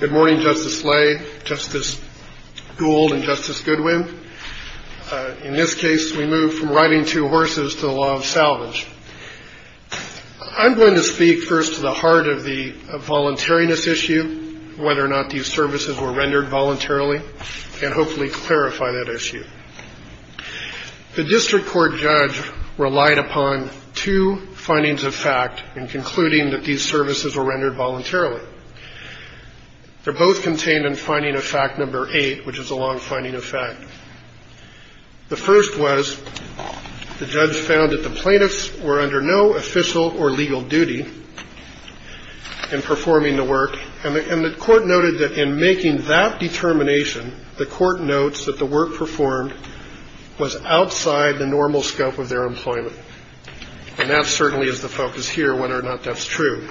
Good morning, Justice Slade, Justice Gould, and Justice Goodwin. In this case, we move from riding two horses to the law of salvage. I'm going to speak first to the heart of the voluntariness issue, whether or not these services were rendered voluntarily, and hopefully clarify that issue. The district court judge relied upon two findings of fact in concluding that these services were rendered voluntarily. They're both contained in finding of fact number eight, which is a long finding of fact. The first was the judge found that the plaintiffs were under no official or legal duty in performing the work, and the court noted that in making that determination, the court notes that the work performed was outside the normal scope of their employment. And that certainly is the focus here, whether or not that's true.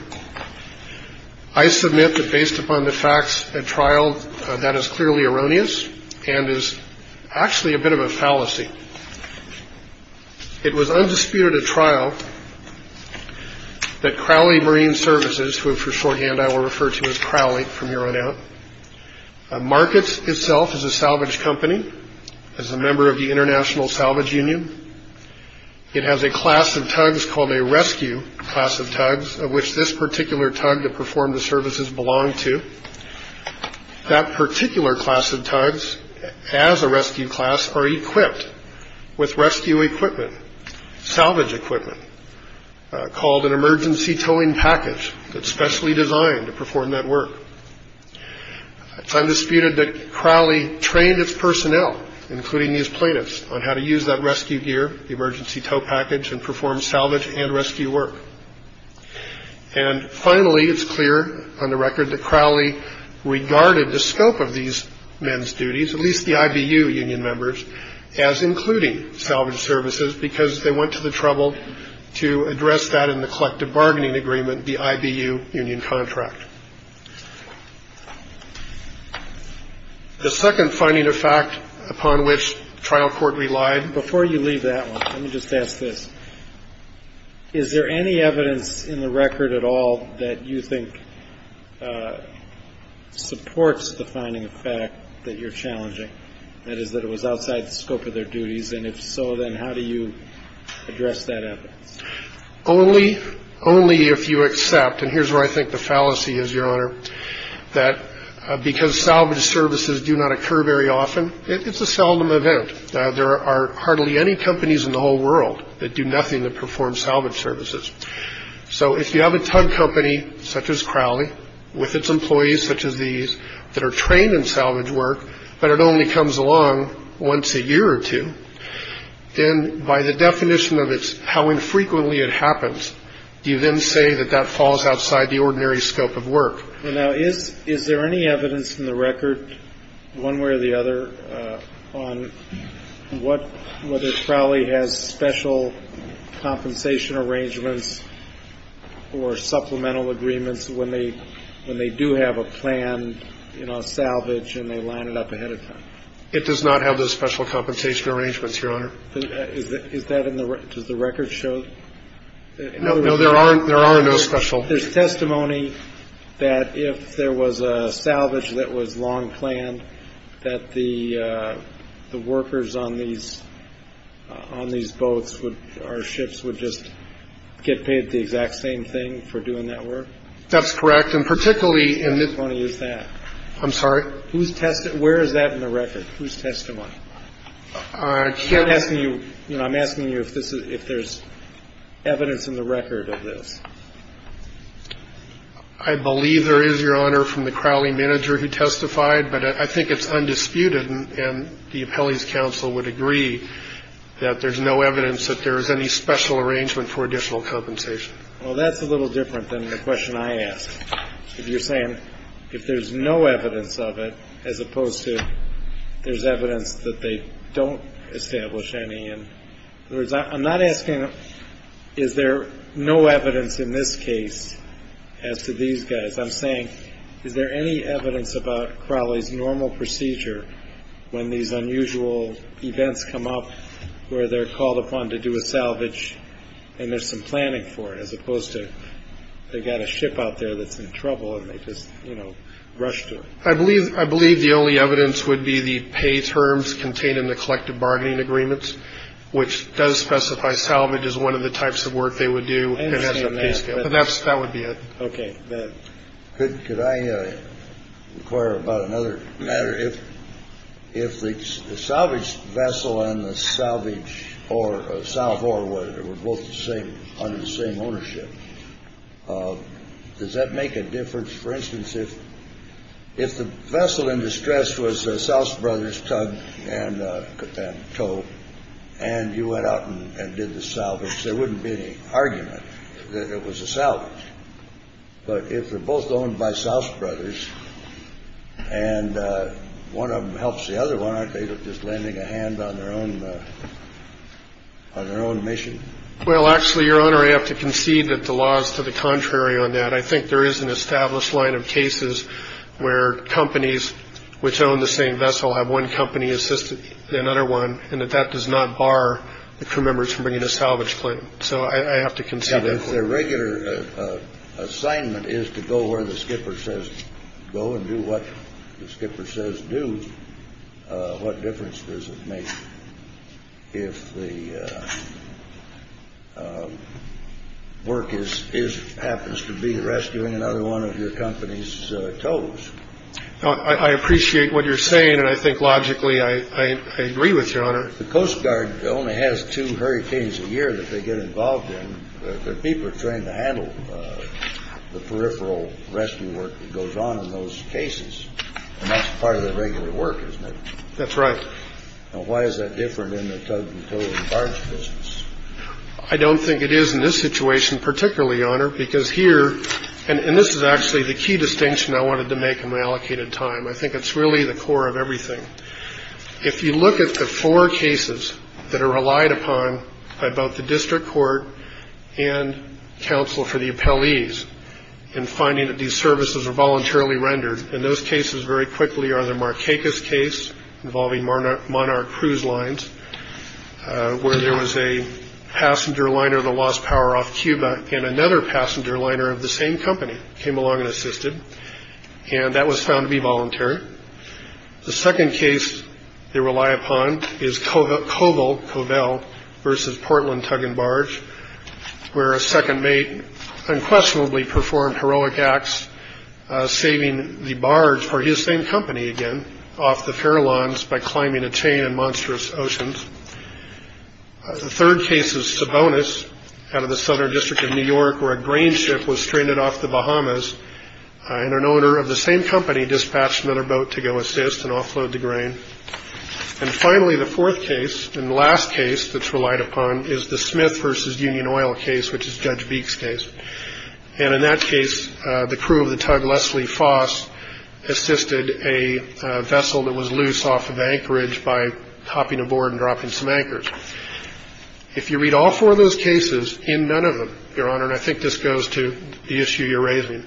I submit that based upon the facts at trial, that is clearly erroneous and is actually a bit of a fallacy. It was undisputed at trial that Crowley Marine Services, who for shorthand I will refer to as Crowley from here on out, markets itself as a salvage company, as a member of the International Salvage Union. It has a class of tugs called a rescue class of tugs, of which this particular tug to perform the services belonged to. That particular class of tugs, as a rescue class, are equipped with rescue equipment, salvage equipment, called an emergency towing package that's specially designed to perform that work. It's undisputed that Crowley trained its personnel, including these plaintiffs, on how to use that rescue gear, the emergency tow package, and perform salvage and rescue work. And finally, it's clear on the record that Crowley regarded the scope of these men's duties, at least the IBU union members, as including salvage services because they went to the trouble to address that in the collective bargaining agreement, the IBU union contract. The second finding of fact upon which trial court relied. Before you leave that one, let me just ask this. Is there any evidence in the record at all that you think supports the finding of fact that you're challenging, that is that it was outside the scope of their duties? And if so, then how do you address that evidence? Only if you accept, and here's where I think the fallacy is, Your Honor, that because salvage services do not occur very often, it's a seldom event. There are hardly any companies in the whole world that do nothing to perform salvage services. So if you have a tug company such as Crowley with its employees such as these that are trained in salvage work, but it only comes along once a year or two, then by the definition of how infrequently it happens, do you then say that that falls outside the ordinary scope of work? Well, now, is there any evidence in the record, one way or the other, on whether Crowley has special compensation arrangements or supplemental agreements when they do have a plan, you know, salvage, and they line it up ahead of time? It does not have those special compensation arrangements, Your Honor. Is that in the record? Does the record show? No, there are no special. There's testimony that if there was a salvage that was long planned, that the workers on these boats or ships would just get paid the exact same thing for doing that work? That's correct. And particularly in this. Whose testimony is that? I'm sorry? Whose testimony? Where is that in the record? Whose testimony? I'm asking you if there's evidence in the record of this. I believe there is, Your Honor, from the Crowley manager who testified, but I think it's undisputed and the appellees' counsel would agree that there's no evidence that there is any special arrangement for additional compensation. Well, that's a little different than the question I asked. You're saying if there's no evidence of it, as opposed to there's evidence that they don't establish any. I'm not asking is there no evidence in this case as to these guys. I'm saying is there any evidence about Crowley's normal procedure when these unusual events come up where they're called upon to do a salvage and there's some planning for it, as opposed to they've got a ship out there that's in trouble and they just rush to it. I believe the only evidence would be the pay terms contained in the collective bargaining agreements, which does specify salvage as one of the types of work they would do. That would be it. Okay. Could I inquire about another matter? If the salvage vessel and the salvage or salvor were both under the same ownership, does that make a difference? For instance, if if the vessel in distress was the South Brothers tug and tow and you went out and did the salvage, there wouldn't be any argument that it was a salvage. But if they're both owned by South Brothers and one of them helps the other one, aren't they just lending a hand on their own on their own mission? Well, actually, Your Honor, I have to concede that the law is to the contrary on that. I think there is an established line of cases where companies which own the same vessel have one company assist another one, and that that does not bar the crew members from bringing a salvage claim. So I have to concede that. If their regular assignment is to go where the skipper says go and do what the skipper says do, what difference does it make if the work is happens to be rescuing another one of your company's tows? I appreciate what you're saying. And I think logically I agree with your honor. The Coast Guard only has two hurricanes a year that they get involved in. The people are trained to handle the peripheral rescue work that goes on in those cases, and that's part of their regular work, isn't it? That's right. Now, why is that different in the tug and tow and barge business? I don't think it is in this situation particularly, Your Honor, because here, and this is actually the key distinction I wanted to make in my allocated time. I think it's really the core of everything. If you look at the four cases that are relied upon by both the district court and counsel for the appellees in finding that these services are voluntarily rendered, and those cases very quickly are the Marquecas case involving Monarch Cruise Lines, where there was a passenger liner that lost power off Cuba, and another passenger liner of the same company came along and assisted, and that was found to be voluntary. The second case they rely upon is Covell versus Portland Tug and Barge, where a second mate unquestionably performed heroic acts, saving the barge for his same company again off the fair lawns by climbing a chain in monstrous oceans. The third case is Sabonis out of the Southern District of New York, and an owner of the same company dispatched another boat to go assist and offload the grain. And finally, the fourth case, and the last case that's relied upon, is the Smith versus Union Oil case, which is Judge Beek's case. And in that case, the crew of the tug Leslie Foss assisted a vessel that was loose off of anchorage by hopping aboard and dropping some anchors. If you read all four of those cases, in none of them, Your Honor, and I think this goes to the issue you're raising,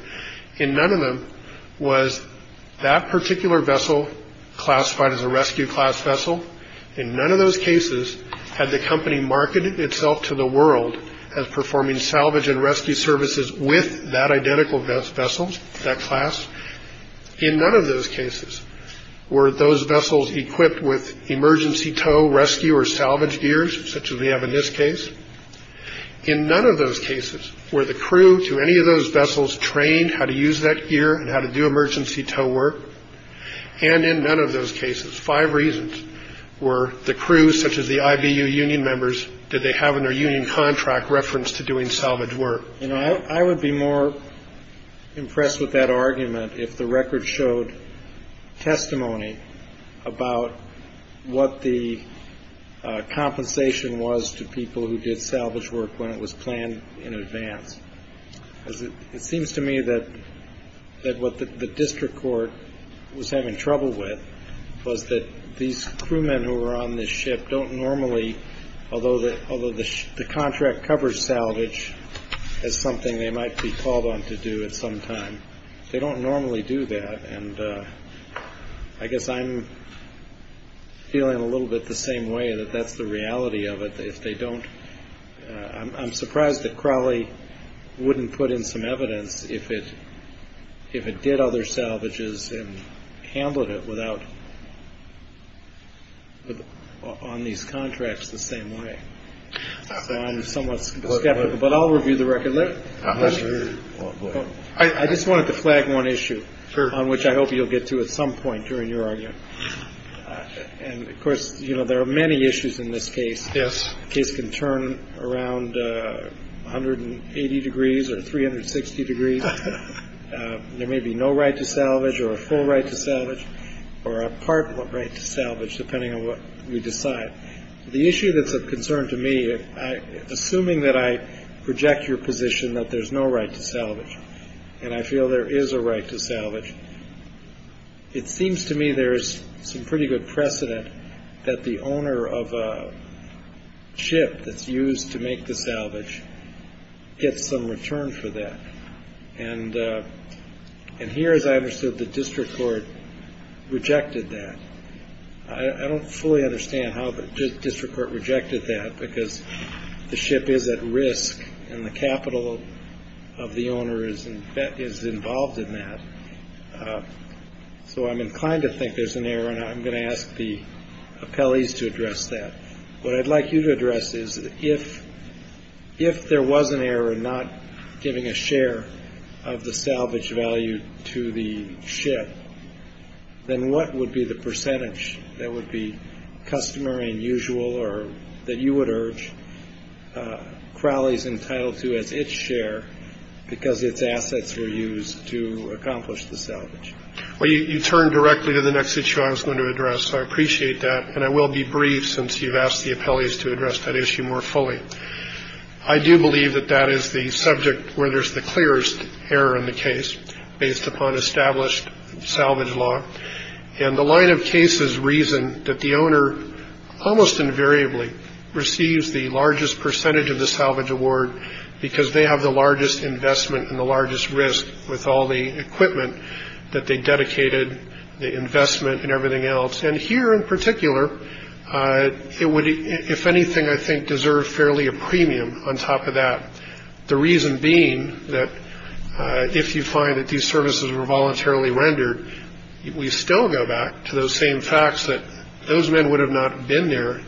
in none of them was that particular vessel classified as a rescue class vessel. In none of those cases had the company marketed itself to the world as performing salvage and rescue services with that identical vessel, that class. In none of those cases were those vessels equipped with emergency tow, rescue, or salvage gears, such as we have in this case. In none of those cases were the crew to any of those vessels trained how to use that gear and how to do emergency tow work. And in none of those cases, five reasons were the crew, such as the IBU union members, did they have in their union contract reference to doing salvage work. I would be more impressed with that argument if the record showed testimony about what the compensation was to people who did salvage work when it was planned in advance. Because it seems to me that what the district court was having trouble with was that these crewmen who were on this ship don't normally, although the contract covers salvage as something they might be called on to do at some time, they don't normally do that. And I guess I'm feeling a little bit the same way, that that's the reality of it. I'm surprised that Crowley wouldn't put in some evidence if it did other salvages and handled it on these contracts the same way. So I'm somewhat skeptical. But I'll review the record later. I just wanted to flag one issue on which I hope you'll get to at some point during your argument. And, of course, you know, there are many issues in this case. Yes. The case can turn around 180 degrees or 360 degrees. There may be no right to salvage or a full right to salvage or a part right to salvage, depending on what we decide. The issue that's of concern to me, assuming that I reject your position that there's no right to salvage and I feel there is a right to salvage, it seems to me there's some pretty good precedent that the owner of a ship that's used to make the salvage gets some return for that. And here, as I understood, the district court rejected that. I don't fully understand how the district court rejected that, because the ship is at risk and the capital of the owner is involved in that. So I'm inclined to think there's an error, and I'm going to ask the appellees to address that. What I'd like you to address is if there was an error in not giving a share of the salvage value to the ship, then what would be the percentage that would be customary and usual or that you would urge Crowley's entitled to as its share because its assets were used to accomplish the salvage? Well, you turned directly to the next issue I was going to address, so I appreciate that, and I will be brief since you've asked the appellees to address that issue more fully. I do believe that that is the subject where there's the clearest error in the case based upon established salvage law, and the line of cases reason that the owner almost invariably receives the largest percentage of the salvage award because they have the largest investment and the largest risk with all the equipment that they dedicated, the investment and everything else. And here in particular, it would, if anything, I think, deserve fairly a premium on top of that, the reason being that if you find that these services were voluntarily rendered, we still go back to those same facts that those men would have not been there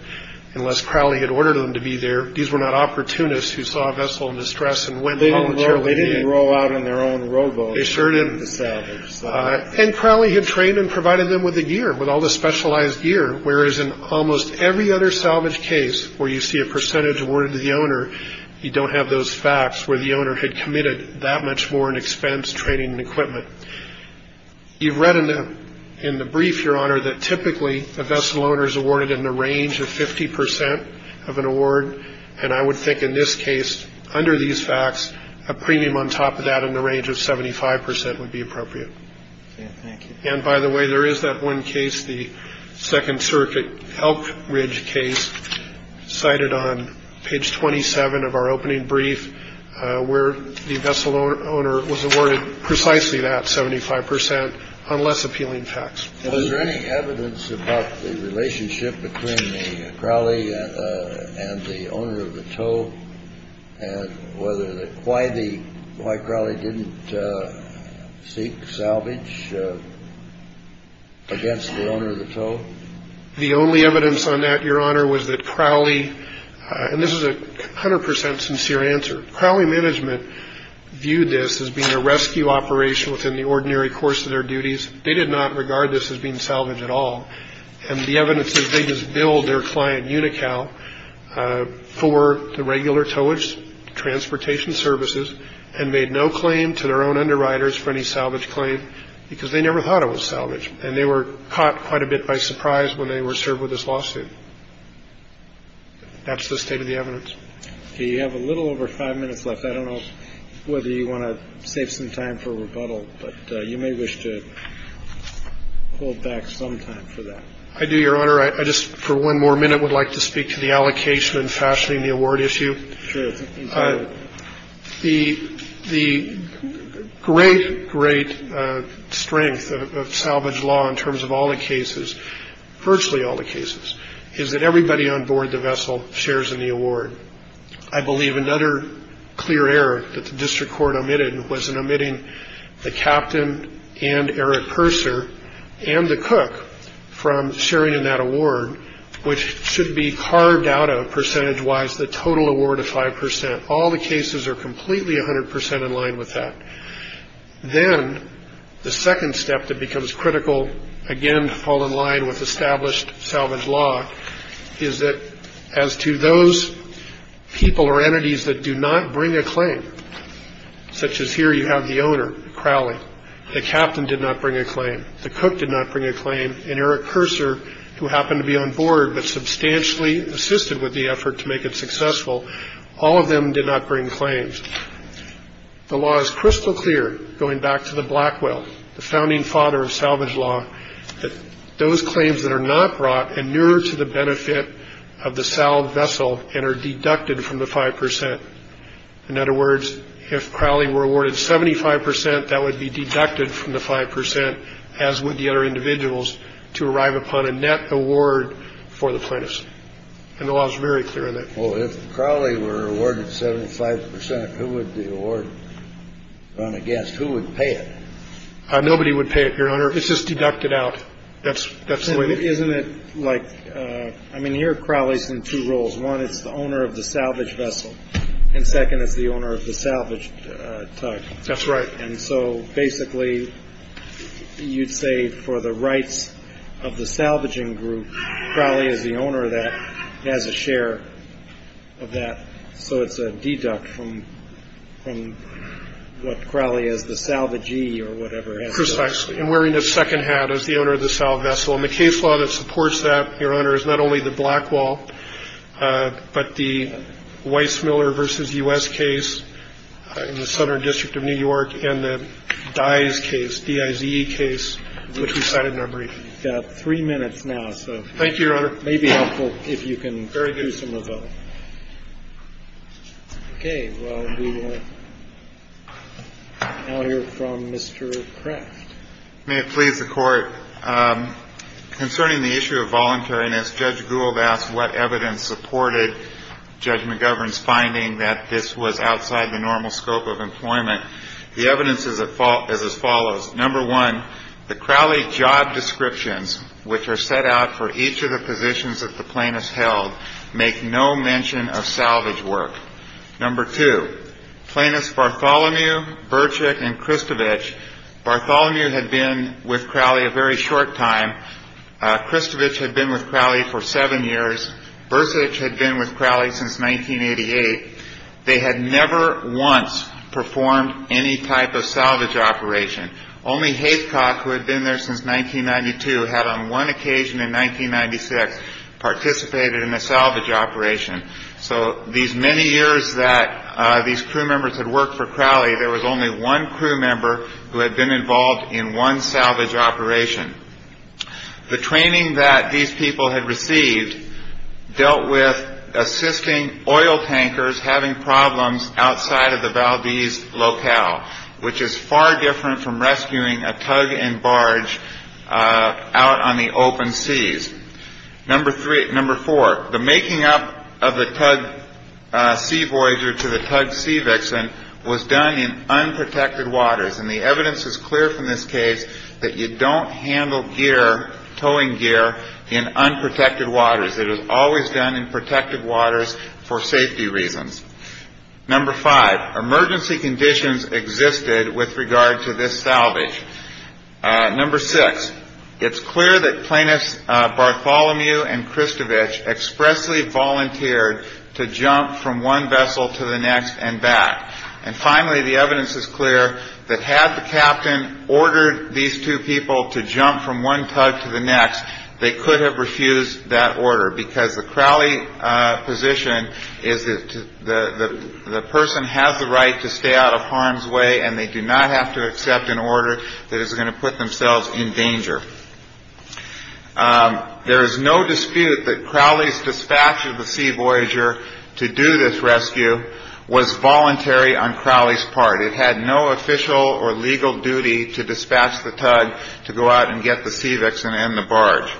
unless Crowley had ordered them to be there. These were not opportunists who saw a vessel in distress and went voluntarily in. They didn't roll out on their own robo to salvage. And Crowley had trained and provided them with the gear, with all the specialized gear, whereas in almost every other salvage case where you see a percentage awarded to the owner, you don't have those facts where the owner had committed that much more in expense, training and equipment. You've read in the brief, Your Honor, that typically a vessel owner is awarded in the range of 50 percent of an award, and I would think in this case, under these facts, a premium on top of that in the range of 75 percent would be appropriate. And by the way, there is that one case, the Second Circuit Elk Ridge case cited on page 27 of our opening brief, where the vessel owner was awarded precisely that 75 percent on less appealing facts. Is there any evidence about the relationship between Crowley and the owner of the tow? And why Crowley didn't seek salvage against the owner of the tow? The only evidence on that, Your Honor, was that Crowley, and this is a 100 percent sincere answer, Crowley management viewed this as being a rescue operation within the ordinary course of their duties. They did not regard this as being salvage at all. And the evidence is they just billed their client Unocal for the regular towage transportation services and made no claim to their own underwriters for any salvage claim because they never thought it was salvage. And they were caught quite a bit by surprise when they were served with this lawsuit. That's the state of the evidence. You have a little over five minutes left. I don't know whether you want to save some time for rebuttal, but you may wish to hold back some time for that. I do, Your Honor. I just for one more minute would like to speak to the allocation and fashioning the award issue. Sure. The great, great strength of salvage law in terms of all the cases, virtually all the cases, is that everybody on board the vessel shares in the award. I believe another clear error that the district court omitted was in omitting the captain and Eric Purser and the cook from sharing in that award, which should be carved out of percentage-wise the total award of five percent. All the cases are completely 100 percent in line with that. Then the second step that becomes critical, again, to fall in line with established salvage law, is that as to those people or entities that do not bring a claim, such as here you have the owner, Crowley, the captain did not bring a claim, the cook did not bring a claim, and Eric Purser, who happened to be on board but substantially assisted with the effort to make it successful, all of them did not bring claims. The law is crystal clear, going back to the Blackwell, the founding father of salvage law, that those claims that are not brought are nearer to the benefit of the salved vessel and are deducted from the five percent. In other words, if Crowley were awarded 75 percent, that would be deducted from the five percent, as would the other individuals, to arrive upon a net award for the plaintiffs. And the law is very clear on that. Well, if Crowley were awarded 75 percent, who would the award run against? Who would pay it? Nobody would pay it, Your Honor. It's just deducted out. That's the way it is. Isn't it like, I mean, here Crowley's in two roles. One is the owner of the salvaged vessel, and second is the owner of the salvaged tug. That's right. And so basically you'd say for the rights of the salvaging group, Crowley is the owner of that, has a share of that, so it's a deduct from what Crowley is, the salvagee or whatever. Precisely. And wearing a second hat as the owner of the salvaged vessel. And the case law that supports that, Your Honor, is not only the Blackwall, but the Weissmuller v. U.S. case in the Southern District of New York and the Dyes case, D-I-Z-E case, which we cited in our brief. You've got three minutes now. Thank you, Your Honor. It may be helpful if you can do some of those. Very good. Okay. Well, we will now hear from Mr. Craft. May it please the Court. Concerning the issue of voluntariness, Judge Gould asked what evidence supported Judge McGovern's finding that this was outside the normal scope of employment. The evidence is as follows. Number one, the Crowley job descriptions, which are set out for each of the positions that the plaintiffs held, make no mention of salvage work. Number two, Plaintiffs Bartholomew, Burchick, and Christovich. Bartholomew had been with Crowley a very short time. Christovich had been with Crowley for seven years. Burchick had been with Crowley since 1988. They had never once performed any type of salvage operation. Only Haycock, who had been there since 1992, had on one occasion in 1996 participated in a salvage operation. So these many years that these crew members had worked for Crowley, there was only one crew member who had been involved in one salvage operation. The training that these people had received dealt with assisting oil tankers having problems outside of the Valdez locale, which is far different from rescuing a tug and barge out on the open seas. Number four, the making up of the tug sea voyager to the tug sea vixen was done in unprotected waters. And the evidence is clear from this case that you don't handle gear, towing gear, in unprotected waters. It was always done in protected waters for safety reasons. Number five, emergency conditions existed with regard to this salvage. Number six, it's clear that Plaintiffs Bartholomew and Christovich expressly volunteered to jump from one vessel to the next and back. And finally, the evidence is clear that had the captain ordered these two people to jump from one tug to the next, they could have refused that order because the Crowley position is that the person has the right to stay out of harm's way and they do not have to accept an order that is going to put themselves in danger. There is no dispute that Crowley's dispatch of the sea voyager to do this rescue was voluntary on Crowley's part. It had no official or legal duty to dispatch the tug to go out and get the sea vixen and the barge.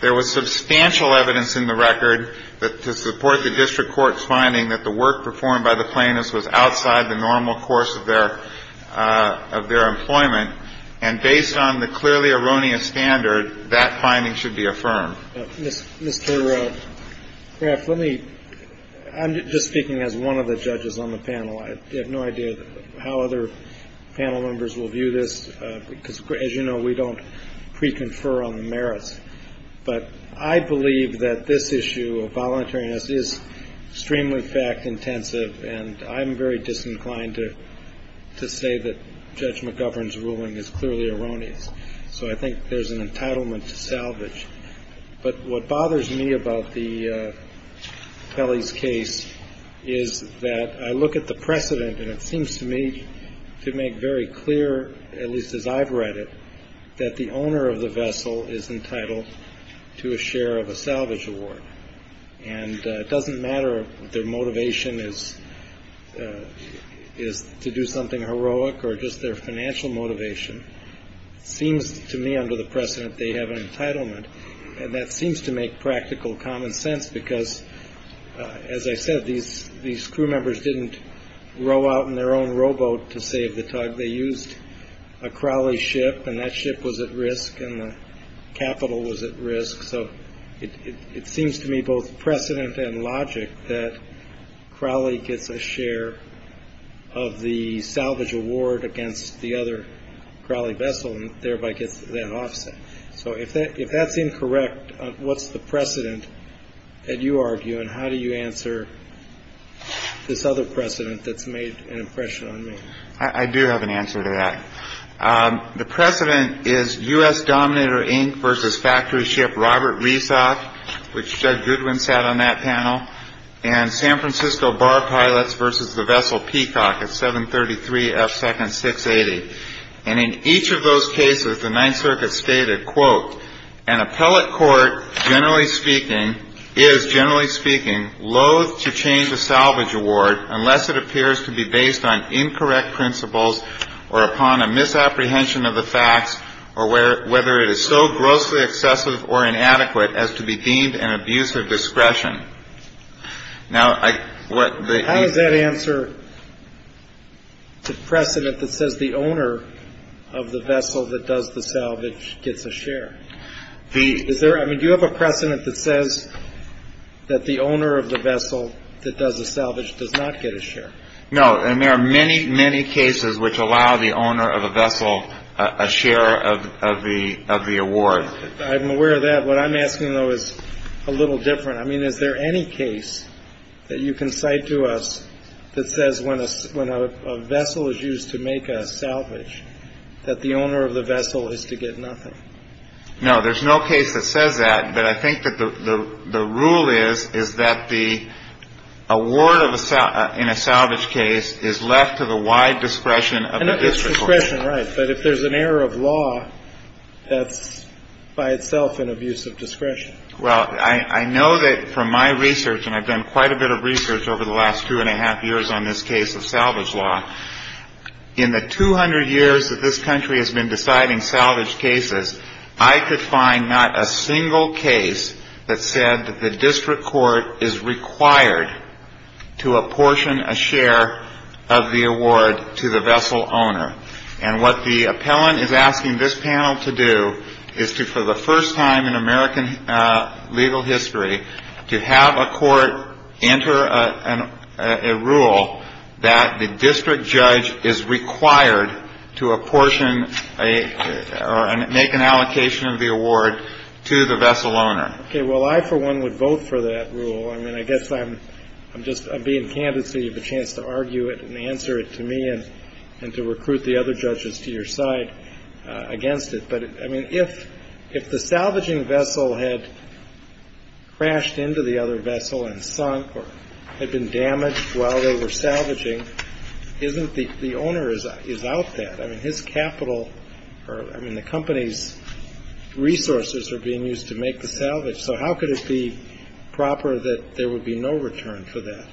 There was substantial evidence in the record to support the district court's finding that the work performed by the plaintiffs was outside the normal course of their employment. And based on the clearly erroneous standard, that finding should be affirmed. Mr. Craft, let me – I'm just speaking as one of the judges on the panel. I have no idea how other panel members will view this because, as you know, we don't pre-confer on the merits. But I believe that this issue of voluntariness is extremely fact-intensive and I'm very disinclined to say that Judge McGovern's ruling is clearly erroneous. So I think there's an entitlement to salvage. But what bothers me about Kelly's case is that I look at the precedent and it seems to me to make very clear, at least as I've read it, that the owner of the vessel is entitled to a share of a salvage award. And it doesn't matter if their motivation is to do something heroic or just their financial motivation. It seems to me under the precedent they have an entitlement. And that seems to make practical common sense because, as I said, these crew members didn't row out in their own rowboat to save the tug. They used a Crawley ship and that ship was at risk and the capital was at risk. So it seems to me both precedent and logic that Crawley gets a share of the salvage award against the other Crawley vessel and thereby gets that offset. So if that's incorrect, what's the precedent that you argue and how do you answer this other precedent that's made an impression on me? I do have an answer to that. The precedent is U.S. Dominator Inc. versus factory ship Robert Reesock, which Judge Goodwin sat on that panel, and San Francisco Bar Pilots versus the vessel Peacock at 733 F Second 680. And in each of those cases, the Ninth Circuit stated, quote, an appellate court generally speaking is, generally speaking, loath to change the salvage award unless it appears to be based on incorrect principles or upon a misapprehension of the facts or whether it is so grossly excessive or inadequate as to be deemed an abuse of discretion. Now, what the. How does that answer the precedent that says the owner of the vessel that does the salvage gets a share? Do you have a precedent that says that the owner of the vessel that does the salvage does not get a share? No, and there are many, many cases which allow the owner of a vessel a share of the award. I'm aware of that. What I'm asking, though, is a little different. I mean, is there any case that you can cite to us that says when a vessel is used to make a salvage, that the owner of the vessel is to get nothing? No, there's no case that says that. But I think that the rule is, is that the award in a salvage case is left to the wide discretion of the district court. Discretion, right. But if there's an error of law, that's by itself an abuse of discretion. Well, I know that from my research, and I've done quite a bit of research over the last two and a half years on this case of salvage law, in the 200 years that this country has been deciding salvage cases, I could find not a single case that said that the district court is required to apportion a share of the award to the vessel owner. And what the appellant is asking this panel to do is to, for the first time in American legal history, to have a court enter a rule that the district judge is required to apportion or make an allocation of the award to the vessel owner. Okay. Well, I, for one, would vote for that rule. I mean, I guess I'm just being candid so you have a chance to argue it and answer it to me and to recruit the other judges to your side against it. But, I mean, if the salvaging vessel had crashed into the other vessel and sunk or had been damaged while they were salvaging, isn't the owner is out that? I mean, his capital or, I mean, the company's resources are being used to make the salvage. So how could it be proper that there would be no return for that?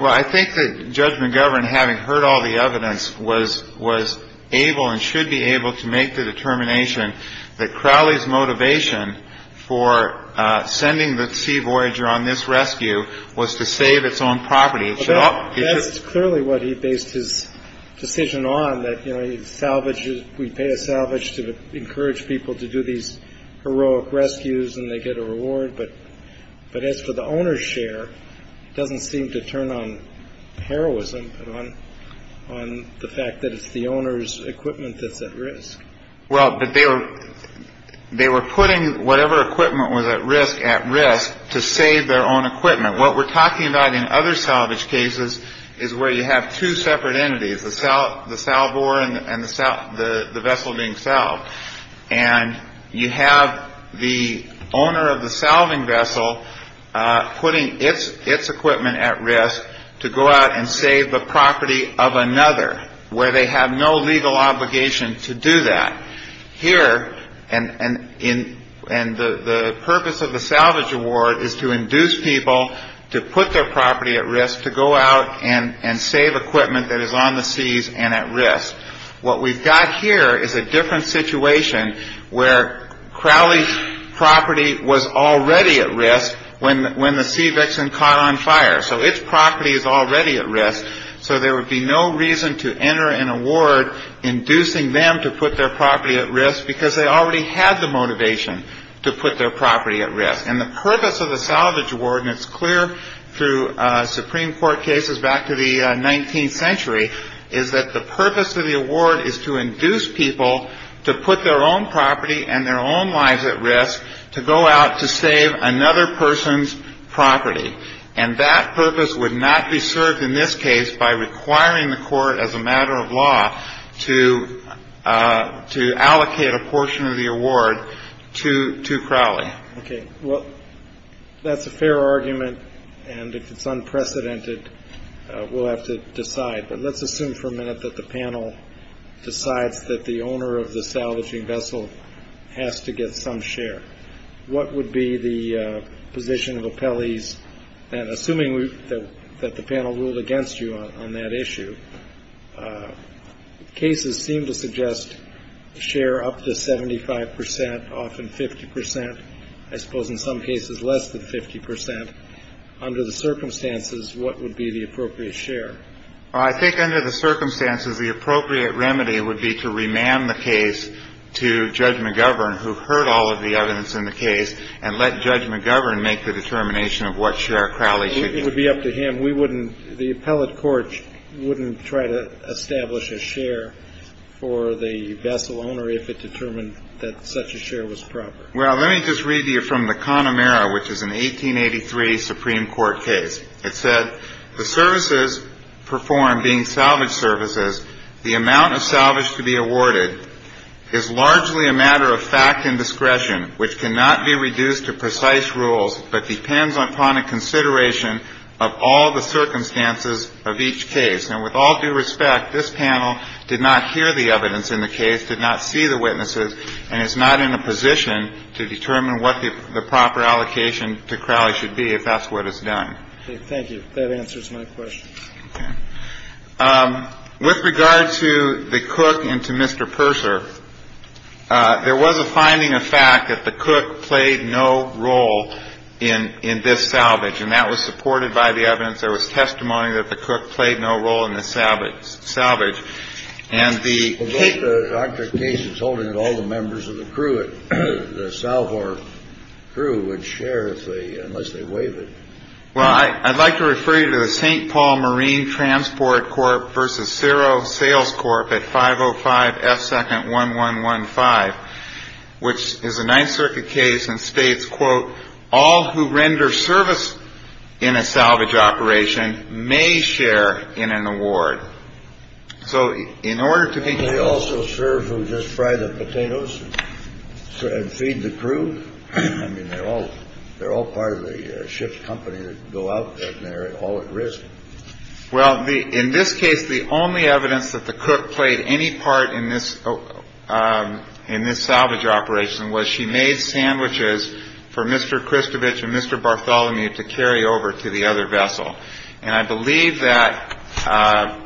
Well, I think that Judge McGovern, having heard all the evidence, was able and should be able to make the determination that Crowley's motivation for sending the Sea Voyager on this rescue was to save its own property. So that's clearly what he based his decision on, that, you know, he salvages. We pay a salvage to encourage people to do these heroic rescues and they get a reward. But as for the owner's share, it doesn't seem to turn on heroism on the fact that it's the owner's equipment that's at risk. Well, but they were they were putting whatever equipment was at risk at risk to save their own equipment. What we're talking about in other salvage cases is where you have two separate entities. So the salvo and the vessel being salved. And you have the owner of the salving vessel putting its its equipment at risk to go out and save the property of another where they have no legal obligation to do that here. And in and the purpose of the salvage award is to induce people to put their property at risk to go out and and save equipment that is on the seas and at risk. What we've got here is a different situation where Crowley's property was already at risk when when the sea vixen caught on fire. So its property is already at risk. So there would be no reason to enter an award inducing them to put their property at risk because they already had the motivation to put their property at risk. And the purpose of the salvage award, and it's clear through Supreme Court cases back to the 19th century, is that the purpose of the award is to induce people to put their own property and their own lives at risk to go out to save another person's property. And that purpose would not be served in this case by requiring the court as a matter of law to to allocate a portion of the award to to Crowley. OK, well, that's a fair argument. And if it's unprecedented, we'll have to decide. But let's assume for a minute that the panel decides that the owner of the salvaging vessel has to get some share. What would be the position of appellees? And assuming that the panel ruled against you on that issue, cases seem to suggest share up to 75 percent, often 50 percent. I suppose in some cases less than 50 percent. Under the circumstances, what would be the appropriate share? I think under the circumstances, the appropriate remedy would be to remand the case to Judge McGovern, who heard all of the evidence in the case and let Judge McGovern make the determination of what share Crowley should get. It would be up to him. We wouldn't the appellate court wouldn't try to establish a share for the vessel owner if it determined that such a share was proper. Well, let me just read you from the Connemara, which is an 1883 Supreme Court case. It said the services performed being salvage services. The amount of salvage to be awarded is largely a matter of fact and discretion, which cannot be reduced to precise rules, but depends upon a consideration of all the circumstances of each case. And with all due respect, this panel did not hear the evidence in the case, did not see the witnesses. And it's not in a position to determine what the proper allocation to Crowley should be if that's what is done. Thank you. That answers my question. With regard to the cook and to Mr. Purser, there was a finding of fact that the cook played no role in in this salvage. And that was supported by the evidence. There was testimony that the cook played no role in the salvage salvage. And the doctor case is holding it. All the members of the crew at the South or crew would share if they unless they waive it. Well, I'd like to refer you to the St. Paul Marine Transport Corp versus zero sales corp at five or five second one one one five, which is a Ninth Circuit case and states, quote, all who render service in a salvage operation may share in an award. So in order to also serve who just fry the potatoes and feed the crew, I mean, they're all they're all part of the ship's company. Go out there. They're all at risk. Well, in this case, the only evidence that the cook played any part in this, in this salvage operation was she made sandwiches for Mr. Christovich and Mr. Bartholomew to carry over to the other vessel. And I believe that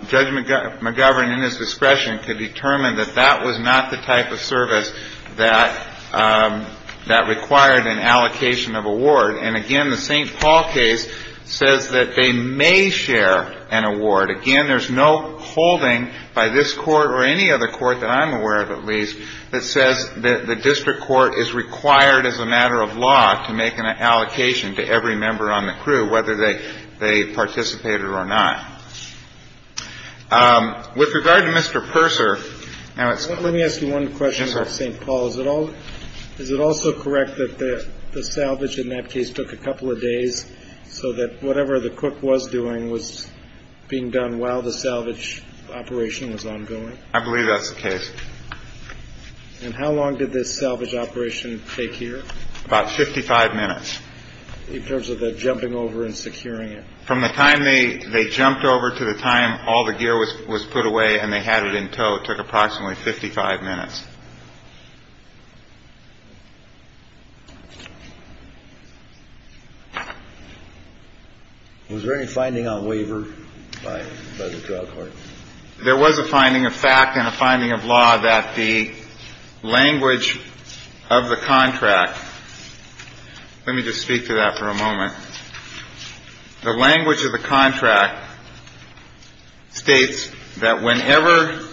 Judge McGovern, in his discretion, could determine that that was not the type of service that that required an allocation of award. And again, the St. Paul case says that they may share an award. Again, there's no holding by this court or any other court that I'm aware of, at least, that says that the district court is required as a matter of law to make an allocation to every member on the crew, whether they they participated or not. With regard to Mr. Purser. Now, let me ask you one question about St. Paul's at all. Is it also correct that the salvage in that case took a couple of days so that whatever the cook was doing was being done while the salvage operation was ongoing? I believe that's the case. And how long did this salvage operation take here? About 55 minutes in terms of the jumping over and securing it from the time they they jumped over to the time all the gear was was put away and they had it in tow. It took approximately 55 minutes. Was there any finding on waiver by the drug court? There was a finding of fact and a finding of law that the language of the contract. Let me just speak to that for a moment. The language of the contract states that whenever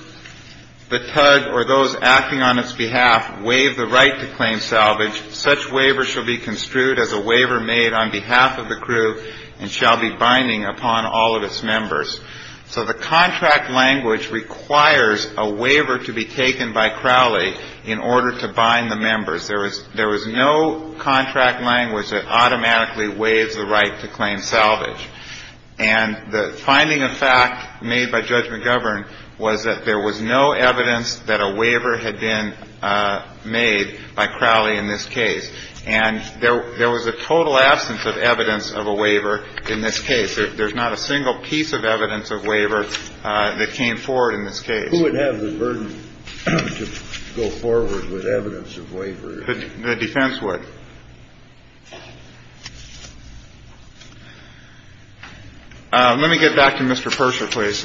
the tug or those acting on its behalf waive the right to claim salvage, such waiver shall be construed as a waiver made on behalf of the crew and shall be binding upon all of its members. So the contract language requires a waiver to be taken by Crowley in order to bind the members. There was there was no contract language that automatically waives the right to claim salvage. And the finding of fact made by Judge McGovern was that there was no evidence that a waiver had been made by Crowley in this case. And there was a total absence of evidence of a waiver in this case. There's not a single piece of evidence of waiver that came forward in this case. Who would have the burden to go forward with evidence of waiver? The defense would. Let me get back to Mr. Persher, please.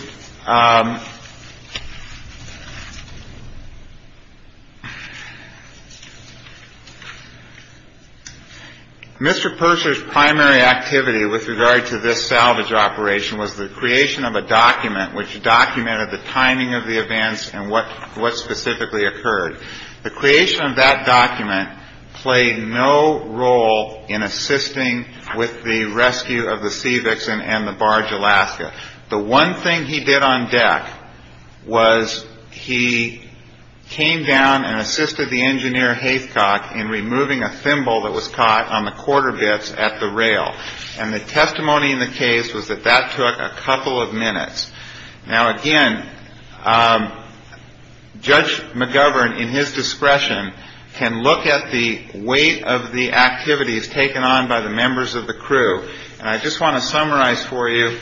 Mr. Persher's primary activity with regard to this salvage operation was the creation of a document which documented the timing of the events and what what specifically occurred. The creation of that document played no role in assisting with the rescue of the civics and the barge Alaska. The one thing he did on deck was he came down and assisted the engineer Haycock in removing a thimble that was caught on the quarter bits at the rail. And the testimony in the case was that that took a couple of minutes. Now, again, Judge McGovern, in his discretion, can look at the weight of the activities taken on by the members of the crew. And I just want to summarize for you,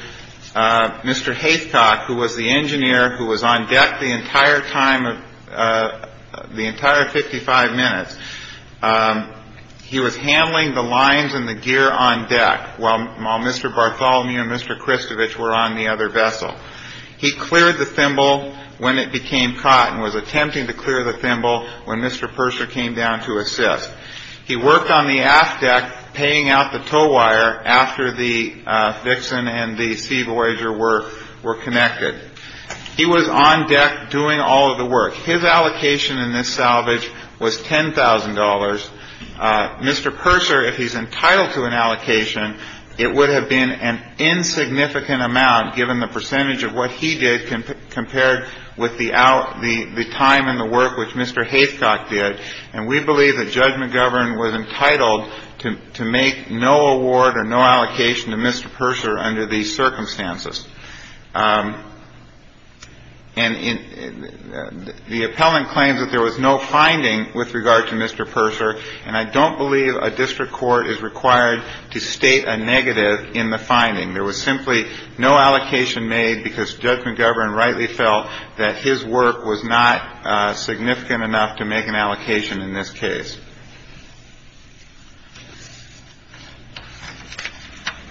Mr. Haycock, who was the engineer who was on deck the entire time of the entire 55 minutes, he was handling the lines and the gear on deck while Mr. Bartholomew and Mr. Christovich were on the other vessel. He cleared the thimble when it became caught and was attempting to clear the thimble when Mr. Persher came down to assist. He worked on the aft deck, paying out the tow wire after the Vixen and the Sea Voyager were were connected. He was on deck doing all of the work. His allocation in this salvage was ten thousand dollars. Mr. Purser, if he's entitled to an allocation, it would have been an insignificant amount, given the percentage of what he did compared with the out the time and the work which Mr. Haycock did. And we believe that Judge McGovern was entitled to make no award or no allocation to Mr. Purser under these circumstances. And the appellant claims that there was no finding with regard to Mr. Purser. And I don't believe a district court is required to state a negative in the finding. There was simply no allocation made because Judge McGovern rightly felt that his work was not significant enough to make an allocation in this case.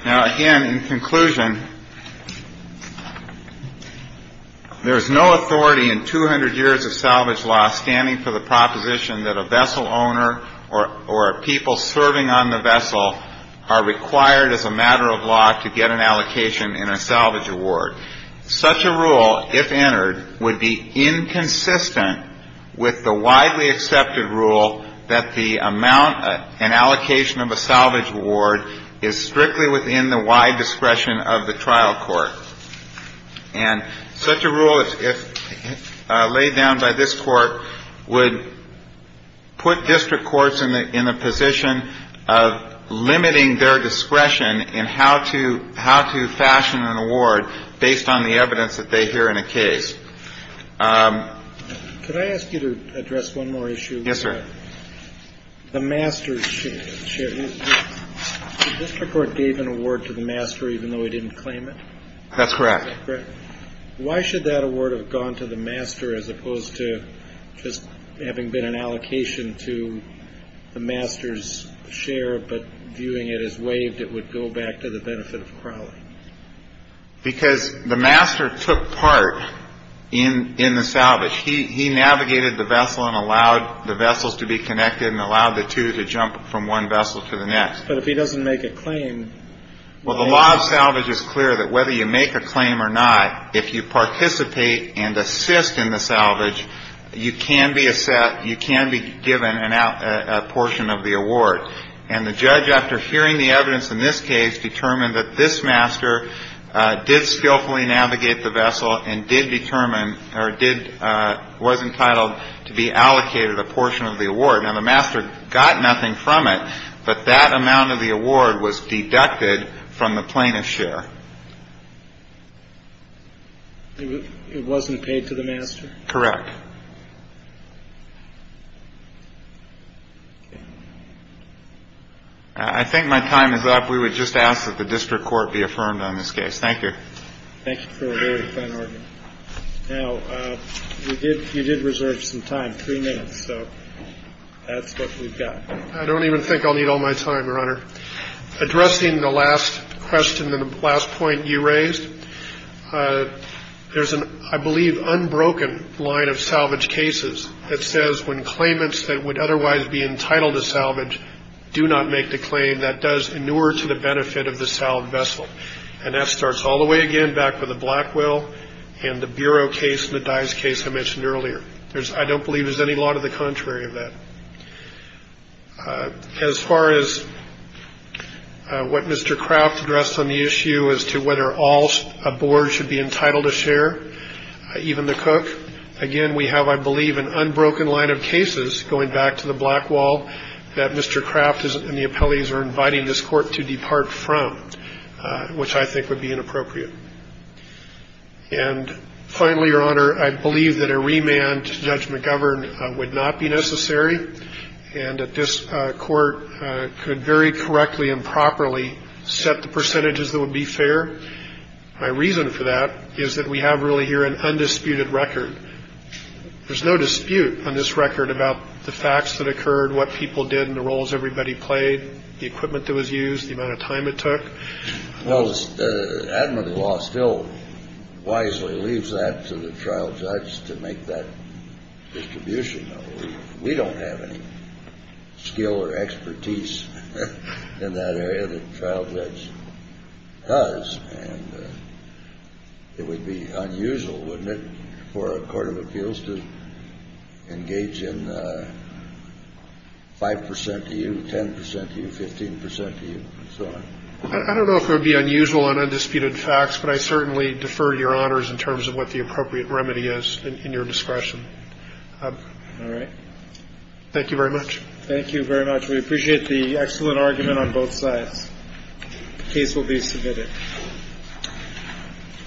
Now, again, in conclusion, there is no authority in 200 years of salvage law standing for the proposition that a vessel owner or a people serving on the vessel are required as a matter of law to get an allocation in a salvage award. Such a rule, if entered, would be inconsistent with the widely accepted rule that the amount and allocation of a salvage award is strictly within the wide discretion of the trial court. And such a rule, if laid down by this Court, would put district courts in the position of limiting their discretion in how to fashion an award based on the evidence that they hear in a case. Could I ask you to address one more issue? Yes, sir. The master's share. The district court gave an award to the master even though he didn't claim it? That's correct. Correct. Why should that award have gone to the master as opposed to just having been an allocation to the master's share, but viewing it as waived, it would go back to the benefit of Crowley? Because the master took part in the salvage. He navigated the vessel and allowed the vessels to be connected and allowed the two to jump from one vessel to the next. But if he doesn't make a claim... Well, the law of salvage is clear that whether you make a claim or not, if you participate and assist in the salvage, you can be given a portion of the award. And the judge, after hearing the evidence in this case, determined that this master did skillfully navigate the vessel and did determine or was entitled to be allocated a portion of the award. Now, the master got nothing from it, but that amount of the award was deducted from the plaintiff's share. It wasn't paid to the master? Correct. I think my time is up. We would just ask that the district court be affirmed on this case. Thank you. Thank you for a very fine argument. Now, you did reserve some time, three minutes, so that's what we've got. I don't even think I'll need all my time, Your Honor. Addressing the last question and the last point you raised, there's an, I believe, unbroken line of salvage cases that says when claimants that would otherwise be entitled to salvage do not make the claim, that does inure to the benefit of the salved vessel. And that starts all the way again back with the Blackwell and the Bureau case and the Dice case I mentioned earlier. I don't believe there's any law to the contrary of that. As far as what Mr. Craft addressed on the issue as to whether all boards should be entitled to share, even the Cook, again, we have, I believe, an unbroken line of cases going back to the Blackwell that Mr. Craft and the appellees are inviting this court to depart from, which I think would be inappropriate. And finally, Your Honor, I believe that a remand to Judge McGovern would not be necessary and that this court could very correctly and properly set the percentages that would be fair. My reason for that is that we have really here an undisputed record. There's no dispute on this record about the facts that occurred, what people did and the roles everybody played, the equipment that was used, the amount of time it took. Well, admiralty law still wisely leaves that to the trial judge to make that distribution. We don't have any skill or expertise in that area that the trial judge does. And it would be unusual, wouldn't it, for a court of appeals to engage in 5 percent to you, 10 percent to you, 15 percent to you, and so on. I don't know if it would be unusual and undisputed facts, but I certainly defer to Your Honors in terms of what the appropriate remedy is in your discretion. All right. Thank you very much. Thank you very much. We appreciate the excellent argument on both sides. The case will be submitted.